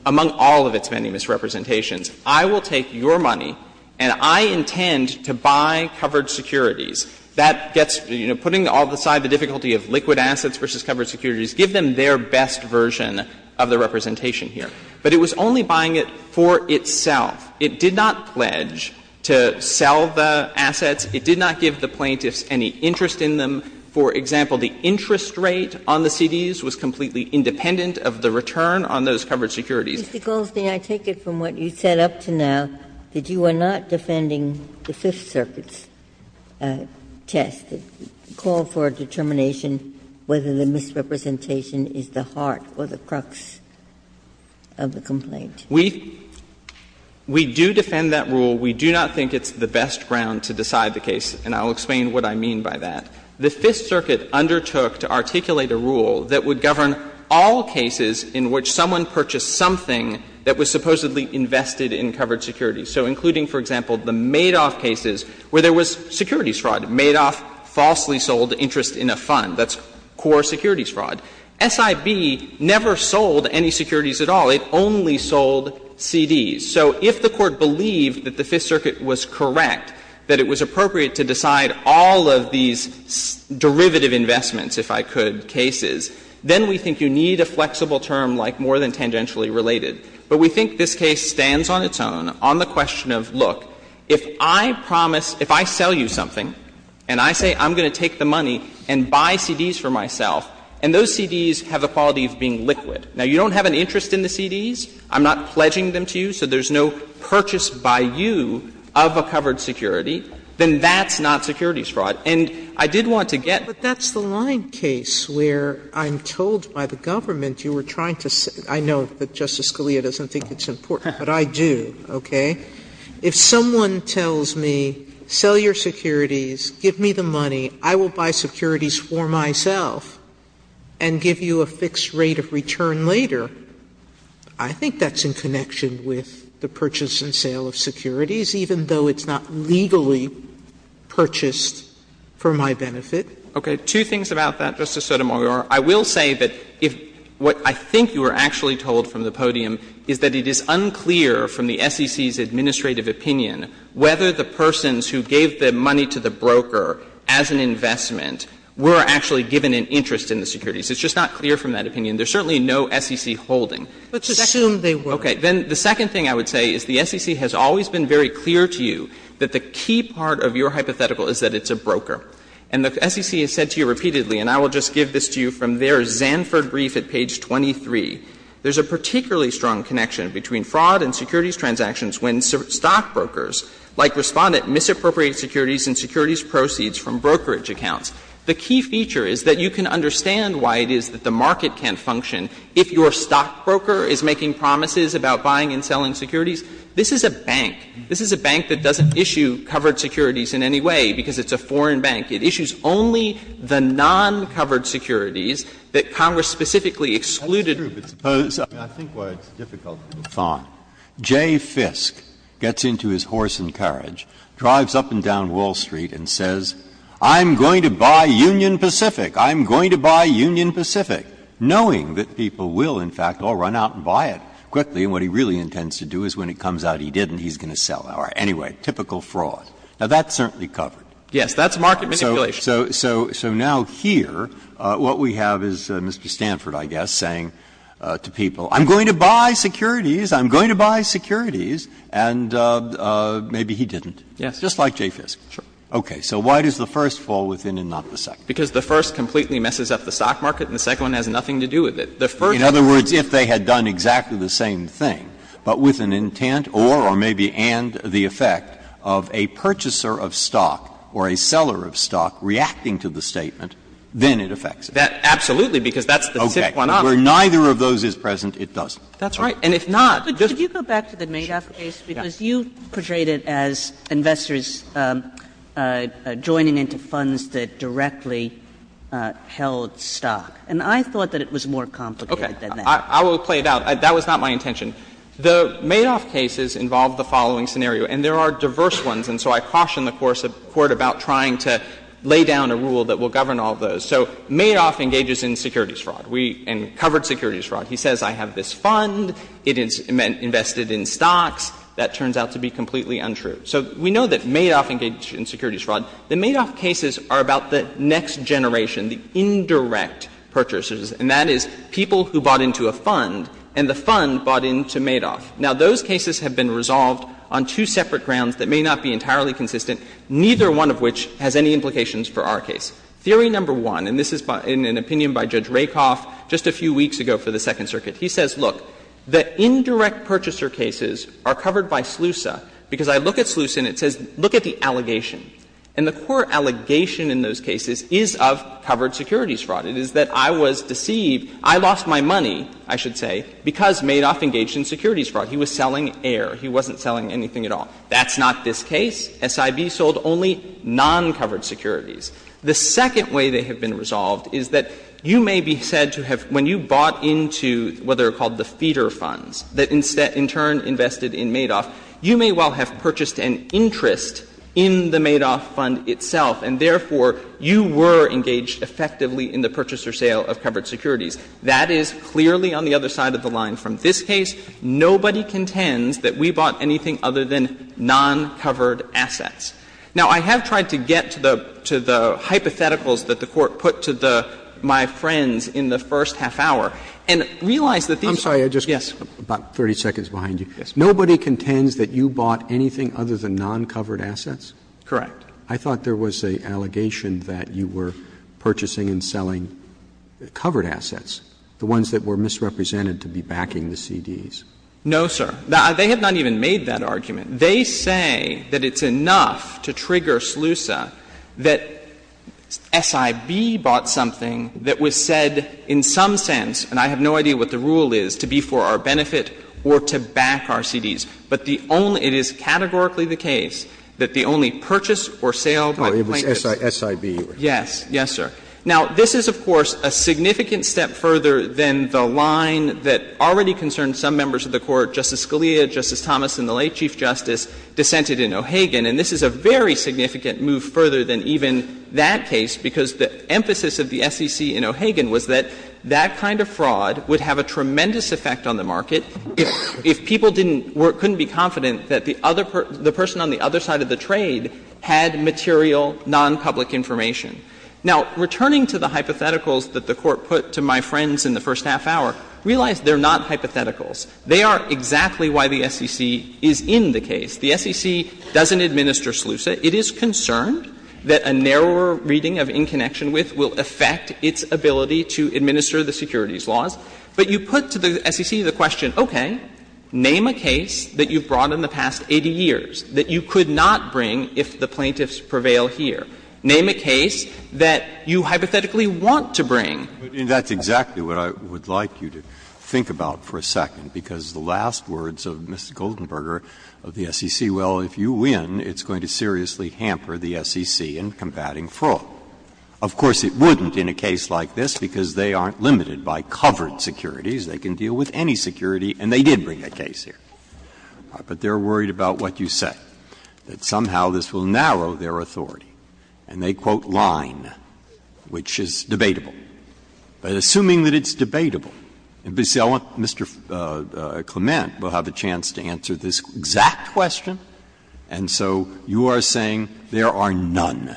among all of its many misrepresentations, I will take your money and I intend to buy covered securities, that gets, you know, putting all aside the difficulty of liquid assets versus covered securities, give them their best version of the representation here. But it was only buying it for itself. It did not pledge to sell the assets. It did not give the plaintiffs any interest in them. For example, the interest rate on the CDs was completely independent of the return on those covered securities. Ginsburg. Mr. Goldstein, I take it from what you said up to now that you are not defending the Fifth Circuit's test, the call for a determination whether the misrepresentation is the heart or the crux of the complaint. We do defend that rule. We do not think it's the best ground to decide the case, and I will explain what I mean by that. The Fifth Circuit undertook to articulate a rule that would govern all cases in which someone purchased something that was supposedly invested in covered securities. So including, for example, the Madoff cases where there was securities fraud. Madoff falsely sold interest in a fund. That's core securities fraud. SIB never sold any securities at all. It only sold CDs. So if the Court believed that the Fifth Circuit was correct, that it was appropriate to decide all of these derivative investments, if I could, cases, then we think you need a flexible term like more than tangentially related. But we think this case stands on its own on the question of, look, if I promise — if I sell you something and I say I'm going to take the money and buy CDs for myself, and those CDs have the quality of being liquid, now, you don't have an interest in the CDs, I'm not pledging them to you, so there's no purchase by you of a covered security, then that's not securities fraud. And I did want to get to the point where I'm told by the government, you were trying to say — I know that Justice Scalia doesn't think it's important, but I do, okay? If someone tells me, sell your securities, give me the money, I will buy securities for myself and give you a fixed rate of return later, I think that's in connection with the purchase and sale of securities, even though it's not legally purchased for my benefit. Shanmugamer Okay. Two things about that, Justice Sotomayor. I will say that if what I think you were actually told from the podium is that it is unclear from the SEC's administrative opinion whether the persons who gave the money to the broker as an investment were actually given an interest in the securities. It's just not clear from that opinion. There's certainly no SEC holding. Sotomayor Let's assume they were. Shanmugamer Okay. Then the second thing I would say is the SEC has always been very clear to you that the key part of your hypothetical is that it's a broker. And the SEC has said to you repeatedly, and I will just give this to you from their Zanford brief at page 23, there's a particularly strong connection between fraud and securities transactions when stockbrokers, like Respondent, misappropriate securities and securities proceeds from brokerage accounts. The key feature is that you can understand why it is that the market can't function if your stockbroker is making promises about buying and selling securities. This is a bank. This is a bank that doesn't issue covered securities in any way because it's a foreign bank. It issues only the non-covered securities that Congress specifically excluded. Breyer I think why it's difficult to define. Jay Fisk gets into his horse and carriage, drives up and down Wall Street and says, I'm going to buy Union Pacific. I'm going to buy Union Pacific, knowing that people will, in fact, all run out and buy it quickly. And what he really intends to do is when it comes out he didn't, he's going to sell it. Anyway, typical fraud. Now, that's certainly covered. Goldstein, So now here, what we have is Mr. Stanford, I guess, saying to people, I'm going to buy securities, I'm going to buy securities, and maybe he didn't. Just like Jay Fisk. Goldstein, Sure. Okay. So why does the first fall within and not the second? Goldstein, Because the first completely messes up the stock market and the second one has nothing to do with it. The first Breyer In other words, if they had done exactly the same thing, but with an intent or, or maybe and the effect of a purchaser of stock or a seller of stock reacting to the statement, then it affects it. Goldstein, Absolutely, because that's the tip one off. Breyer Okay. Where neither of those is present, it doesn't. Goldstein, That's right. And if not, just Sotomayor, could you go back to the Madoff case, because you portrayed it as investors joining into funds that directly held stock, and I thought that it was more complicated than that. Goldstein, Okay. I will play it out. That was not my intention. The Madoff cases involve the following scenario, and there are diverse ones, and so I caution the Court about trying to lay down a rule that will govern all of those. So Madoff engages in securities fraud, and covered securities fraud. He says, I have this fund, it is invested in stocks. That turns out to be completely untrue. So we know that Madoff engaged in securities fraud. The Madoff cases are about the next generation, the indirect purchasers, and that is people who bought into a fund, and the fund bought into Madoff. Now, those cases have been resolved on two separate grounds that may not be entirely consistent, neither one of which has any implications for our case. Theory number one, and this is in an opinion by Judge Rakoff just a few weeks ago for the Second Circuit, he says, look, the indirect purchaser cases are covered by SLUSA, because I look at SLUSA, and it says, look at the allegation. And the core allegation in those cases is of covered securities fraud. It is that I was deceived, I lost my money, I should say, because Madoff engaged in securities fraud. He was selling air. He wasn't selling anything at all. That's not this case. SIB sold only non-covered securities. The second way they have been resolved is that you may be said to have, when you bought into what are called the feeder funds that in turn invested in Madoff, you may well have purchased an interest in the Madoff fund itself, and therefore, you were engaged effectively in the purchase or sale of covered securities. That is clearly on the other side of the line. From this case, nobody contends that we bought anything other than non-covered assets. Now, I have tried to get to the hypotheticals that the Court put to the my friends in the first half hour, and realize that these are not the case. Roberts. I'm sorry, I just got about 30 seconds behind you. Nobody contends that you bought anything other than non-covered assets? Correct. I thought there was an allegation that you were purchasing and selling covered assets, the ones that were misrepresented to be backing the CDs. No, sir. They have not even made that argument. They say that it's enough to trigger SLUSA that SIB bought something that was said in some sense, and I have no idea what the rule is, to be for our benefit or to back our CDs. But the only – it is categorically the case that the only purchase or sale by plaintiffs Oh, it was SIB. Yes. Yes, sir. Now, this is, of course, a significant step further than the line that already concerned some members of the Court, Justice Scalia, Justice Thomas, and the late Chief Justice dissented in O'Hagan. And this is a very significant move further than even that case, because the emphasis of the SEC in O'Hagan was that that kind of fraud would have a tremendous effect on the market if people didn't – couldn't be confident that the other – the person on the other side of the trade had material, nonpublic information. Now, returning to the hypotheticals that the Court put to my friends in the first half hour, realize they're not hypotheticals. They are exactly why the SEC is in the case. The SEC doesn't administer SLUSA. It is concerned that a narrower reading of in connection with will affect its ability to administer the securities laws. But you put to the SEC the question, okay, name a case that you've brought in the past 80 years that you could not bring if the plaintiffs prevail here. Name a case that you hypothetically want to bring. Breyer, that's exactly what I would like you to think about for a second, because the last words of Mr. Goldenberger of the SEC, well, if you win, it's going to seriously hamper the SEC in combating fraud. Of course, it wouldn't in a case like this, because they aren't limited by covered securities. They can deal with any security, and they did bring a case here. But they're worried about what you said, that somehow this will narrow their authority. And they quote Line, which is debatable. But assuming that it's debatable, and, you see, I want Mr. Clement will have a chance to answer this exact question. And so you are saying there are none,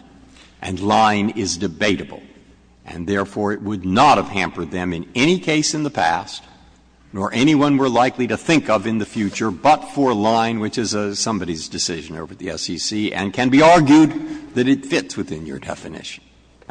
and Line is debatable, and therefore it would not have hampered them in any case in the past, nor anyone we're likely to think of in the future, but for Line, which is somebody's decision over at the SEC, and can be argued that it fits within your definition.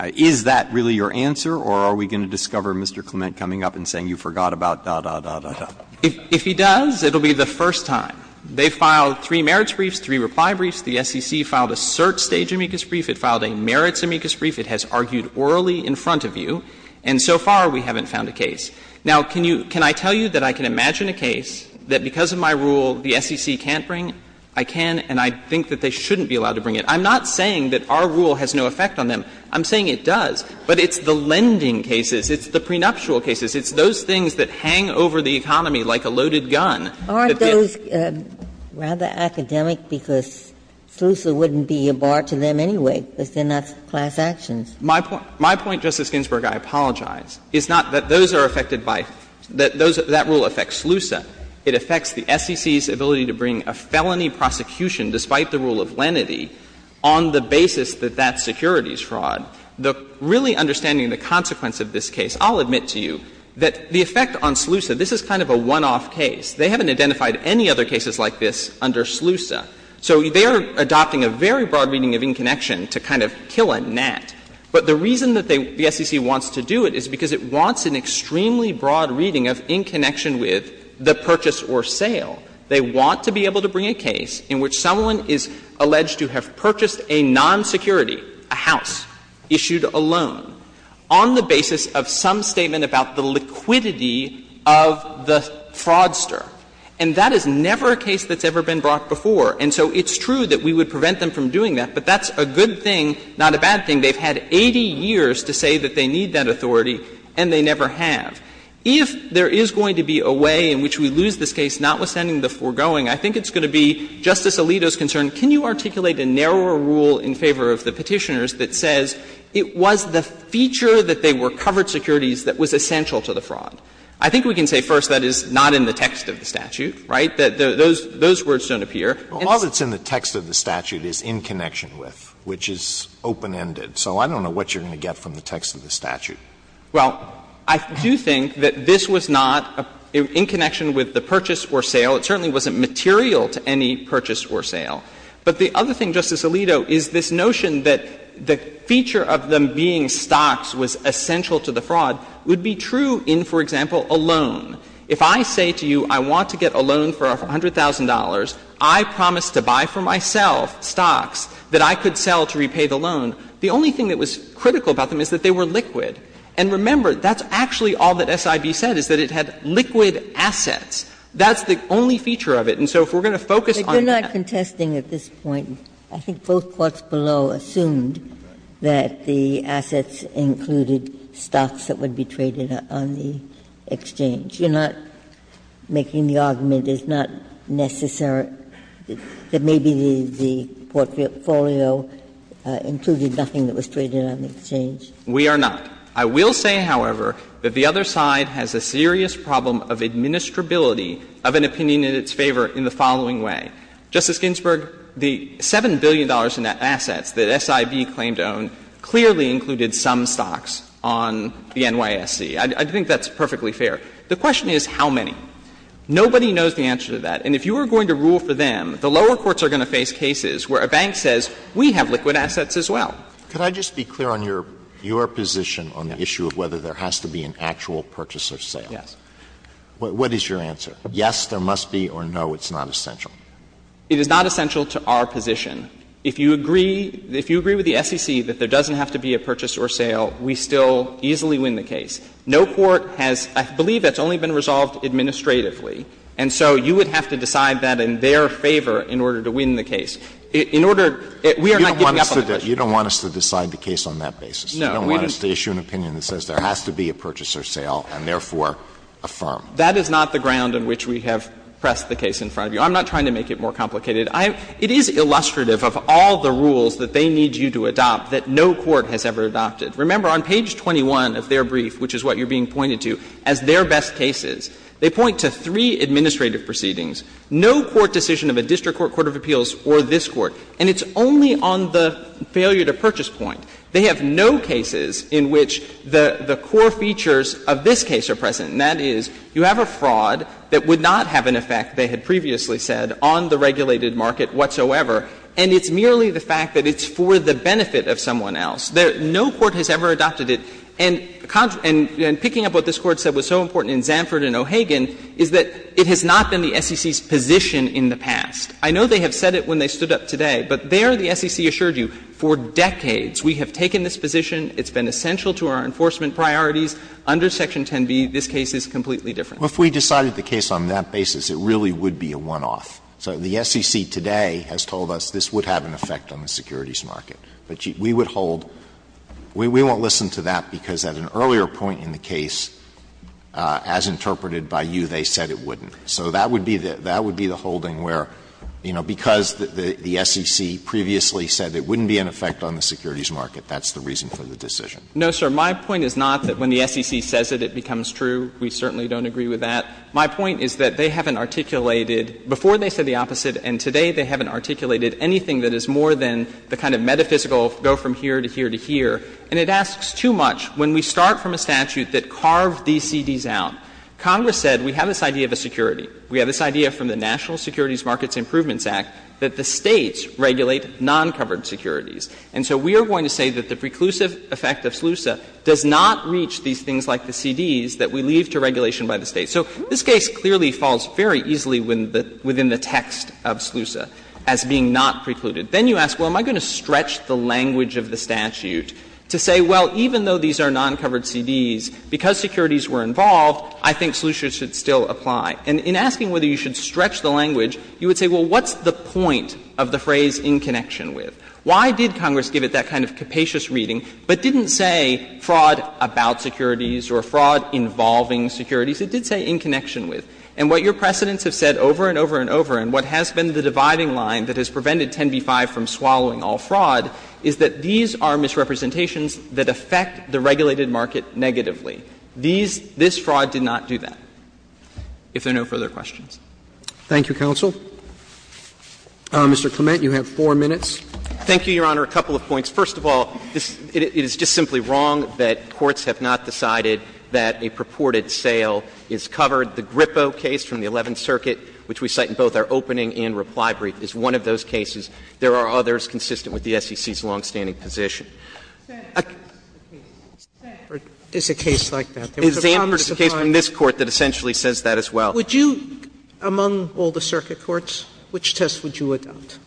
Is that really your answer, or are we going to discover Mr. Clement coming up and saying you forgot about da, da, da, da? If he does, it will be the first time. They filed three merits briefs, three reply briefs. The SEC filed a cert stage amicus brief. It filed a merits amicus brief. It has argued orally in front of you. And so far, we haven't found a case. Now, can you — can I tell you that I can imagine a case that, because of my rule, the SEC can't bring? I can, and I think that they shouldn't be allowed to bring it. I'm not saying that our rule has no effect on them. I'm saying it does, but it's the lending cases, it's the prenuptial cases, it's those things that hang over the economy like a loaded gun. Ginsburg-Ginzburg Aren't those rather academic, because SLUSA wouldn't be a bar to them anyway, because they're not class actions. Shanmugam My point, Justice Ginsburg, I apologize, is not that those are affected by — that rule affects SLUSA. It affects the SEC's ability to bring a felony prosecution, despite the rule of lenity, on the basis that that's securities fraud. The — really understanding the consequence of this case, I'll admit to you that the effect on SLUSA, this is kind of a one-off case. They haven't identified any other cases like this under SLUSA. So they are adopting a very broad reading of inconnection to kind of kill a gnat. But the reason that they — the SEC wants to do it is because it wants an extremely broad reading of inconnection with the purchase or sale. They want to be able to bring a case in which someone is alleged to have purchased a non-security, a house, issued a loan, on the basis of some statement about the liquidity of the fraudster. And that is never a case that's ever been brought before. And so it's true that we would prevent them from doing that, but that's a good thing, not a bad thing. They've had 80 years to say that they need that authority, and they never have. If there is going to be a way in which we lose this case, notwithstanding the foregoing, I think it's going to be Justice Alito's concern, can you articulate a narrower rule in favor of the Petitioners that says it was the feature that they were covered securities that was essential to the fraud? I think we can say, first, that is not in the text of the statute, right? That those words don't appear. Alito, that's in the text of the statute, is in connection with, which is open-ended. So I don't know what you're going to get from the text of the statute. Well, I do think that this was not in connection with the purchase or sale. It certainly wasn't material to any purchase or sale. But the other thing, Justice Alito, is this notion that the feature of them being stocks was essential to the fraud would be true in, for example, a loan. If I say to you I want to get a loan for $100,000, I promise to buy for myself stocks that I could sell to repay the loan, the only thing that was critical about them is that they were liquid. And remember, that's actually all that SIB said, is that it had liquid assets. That's the only feature of it. And so if we're going to focus on that. Ginsburg. But you're not contesting at this point. I think both courts below assumed that the assets included stocks that would be traded on the exchange. You're not making the argument, it's not necessary, that maybe the portfolio included nothing that was traded on the exchange. We are not. I will say, however, that the other side has a serious problem of administrability of an opinion in its favor in the following way. Justice Ginsburg, the $7 billion in assets that SIB claimed to own clearly included some stocks on the NYSC. I think that's perfectly fair. The question is how many. Nobody knows the answer to that. And if you were going to rule for them, the lower courts are going to face cases where a bank says, we have liquid assets as well. Alito, could I just be clear on your position on the issue of whether there has to be an actual purchase or sale? Yes. What is your answer? Yes, there must be, or no, it's not essential? It is not essential to our position. If you agree with the SEC that there doesn't have to be a purchase or sale, we still easily win the case. No court has, I believe that's only been resolved administratively. And so you would have to decide that in their favor in order to win the case. In order to – we are not giving up on the issue. You don't want us to decide the case on that basis? No. You don't want us to issue an opinion that says there has to be a purchase or sale and therefore affirm? That is not the ground on which we have pressed the case in front of you. I'm not trying to make it more complicated. It is illustrative of all the rules that they need you to adopt that no court has ever adopted. Remember, on page 21 of their brief, which is what you're being pointed to, as their best cases, they point to three administrative proceedings, no court decision of a district court, court of appeals, or this Court, and it's only on the failure to purchase point. They have no cases in which the core features of this case are present, and that is you have a fraud that would not have an effect, they had previously said, on the regulated market whatsoever, and it's merely the fact that it's for the benefit of someone else. No court has ever adopted it. And picking up what this Court said was so important in Zanford and O'Hagan is that it has not been the SEC's position in the past. I know they have said it when they stood up today, but there the SEC assured you, for decades, we have taken this position, it's been essential to our enforcement priorities. Under Section 10b, this case is completely different. Alito, if we decided the case on that basis, it really would be a one-off. So the SEC today has told us this would have an effect on the securities market. But we would hold we won't listen to that because at an earlier point in the case, as interpreted by you, they said it wouldn't. So that would be the holding where, you know, because the SEC previously said it wouldn't be an effect on the securities market, that's the reason for the decision. No, sir. My point is not that when the SEC says it, it becomes true. We certainly don't agree with that. My point is that they haven't articulated, before they said the opposite and today they haven't articulated anything that is more than the kind of metaphysical go from here to here to here. And it asks too much when we start from a statute that carved these CDs out. Congress said we have this idea of a security. We have this idea from the National Securities Markets Improvements Act that the States regulate non-covered securities. And so we are going to say that the preclusive effect of SLUSA does not reach these things like the CDs that we leave to regulation by the States. So this case clearly falls very easily within the text of SLUSA as being not precluded. Then you ask, well, am I going to stretch the language of the statute to say, well, even though these are non-covered CDs, because securities were involved, I think SLUSA should still apply. And in asking whether you should stretch the language, you would say, well, what's the point of the phrase in connection with? Why did Congress give it that kind of capacious reading, but didn't say fraud about securities or fraud involving securities? It did say in connection with. And what your precedents have said over and over and over, and what has been the dividing line that has prevented 10b-5 from swallowing all fraud, is that these are misrepresentations that affect the regulated market negatively. These — this fraud did not do that, if there are no further questions. Thank you, counsel. Mr. Clement, you have 4 minutes. Thank you, Your Honor. A couple of points. First of all, it is just simply wrong that courts have not decided that a purported sale is covered. The GRIPO case from the Eleventh Circuit, which we cite in both our opening and reply brief, is one of those cases. There are others consistent with the SEC's longstanding position. Sanford is a case like that. There was a Congressified case from this Court that essentially says that as well. Would you, among all the circuit courts, which test would you adopt?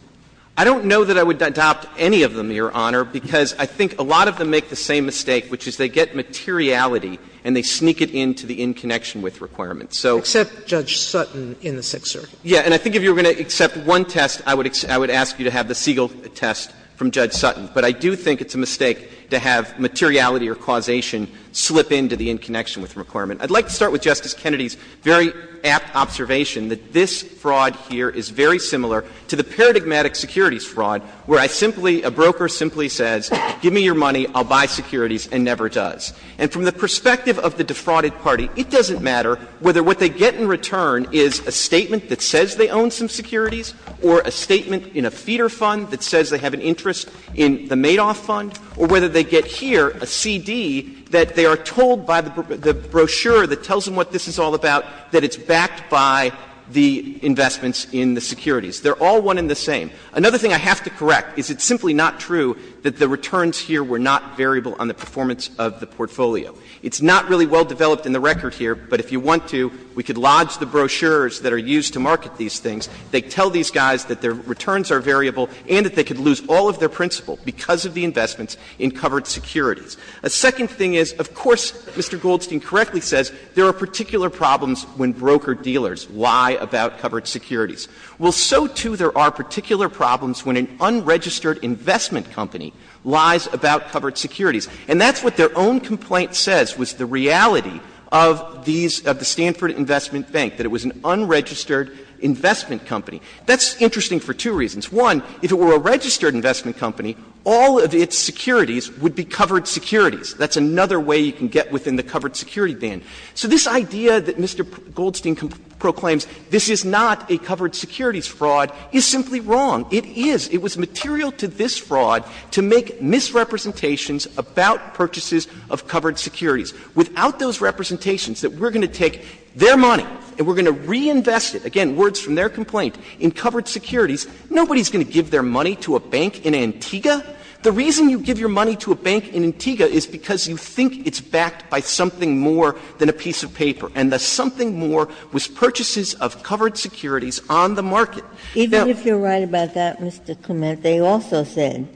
I don't know that I would adopt any of them, Your Honor, because I think a lot of them make the same mistake, which is they get materiality and they sneak it into the in-connection-with requirement. Except Judge Sutton in the Sixth Circuit. Yes. And I think if you were going to accept one test, I would ask you to have the Siegel test from Judge Sutton. But I do think it's a mistake to have materiality or causation slip into the in-connection-with requirement. I'd like to start with Justice Kennedy's very apt observation that this fraud here is very similar to the paradigmatic securities fraud, where I simply — a broker simply says, give me your money, I'll buy securities, and never does. And from the perspective of the defrauded party, it doesn't matter whether what they get in return is a statement that says they own some securities, or a statement in a feeder fund that says they have an interest in the Madoff fund, or whether they get here a CD that they are told by the brochure that tells them what this is all about, that it's backed by the investments in the securities. They're all one and the same. Another thing I have to correct is it's simply not true that the returns here were not variable on the performance of the portfolio. It's not really well-developed in the record here, but if you want to, we could lodge the brochures that are used to market these things. They tell these guys that their returns are variable and that they could lose all of their principal because of the investments in covered securities. A second thing is, of course, Mr. Goldstein correctly says there are particular problems when broker-dealers lie about covered securities. Well, so, too, there are particular problems when an unregistered investment company lies about covered securities. And that's what their own complaint says was the reality of these of the Stanford Investment Bank, that it was an unregistered investment company. That's interesting for two reasons. One, if it were a registered investment company, all of its securities would be covered securities. That's another way you can get within the covered security ban. So this idea that Mr. Goldstein proclaims this is not a covered securities fraud is simply wrong. It is. It was material to this fraud to make misrepresentations about purchases of covered securities. Without those representations, that we're going to take their money and we're going to reinvest it, again, words from their complaint, in covered securities, nobody is going to give their money to a bank in Antigua. The reason you give your money to a bank in Antigua is because you think it's backed by something more than a piece of paper, and the something more was purchases of covered securities on the market. Ginsburg. Even if you're right about that, Mr. Clement, they also said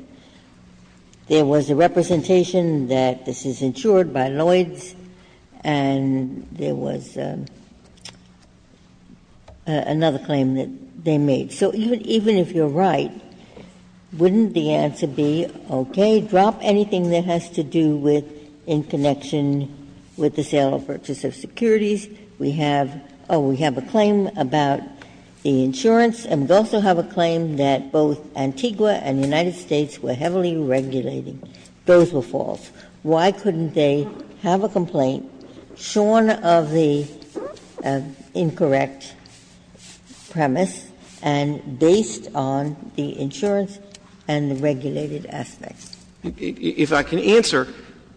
there was a representation that this is insured by Lloyds, and there was another claim that they made. So even if you're right, wouldn't the answer be, okay, drop anything that has to do with in connection with the sale or purchase of securities. We have a claim about the insurance, and we also have a claim that both Antigua and the United States were heavily regulating. Those were false. Why couldn't they have a complaint shorn of the incorrect premise and based on the insurance and the regulated aspects? Clement. If I can answer,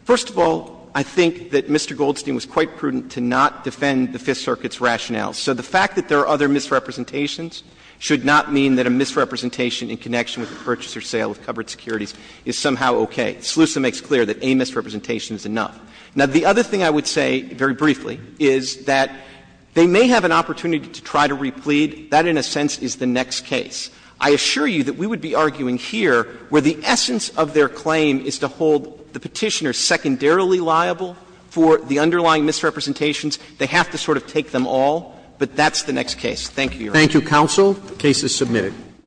first of all, I think that Mr. Goldstein was quite prudent to not defend the Fifth Circuit's rationale. So the fact that there are other misrepresentations should not mean that a misrepresentation in connection with the purchase or sale of covered securities is somehow okay. SLUSA makes clear that a misrepresentation is enough. Now, the other thing I would say, very briefly, is that they may have an opportunity to try to replead. That, in a sense, is the next case. I assure you that we would be arguing here where the essence of their claim is to hold the Petitioner secondarily liable for the underlying misrepresentations. They have to sort of take them all, but that's the next case. Thank you, Your Honor. Thank you, counsel. The case is submitted.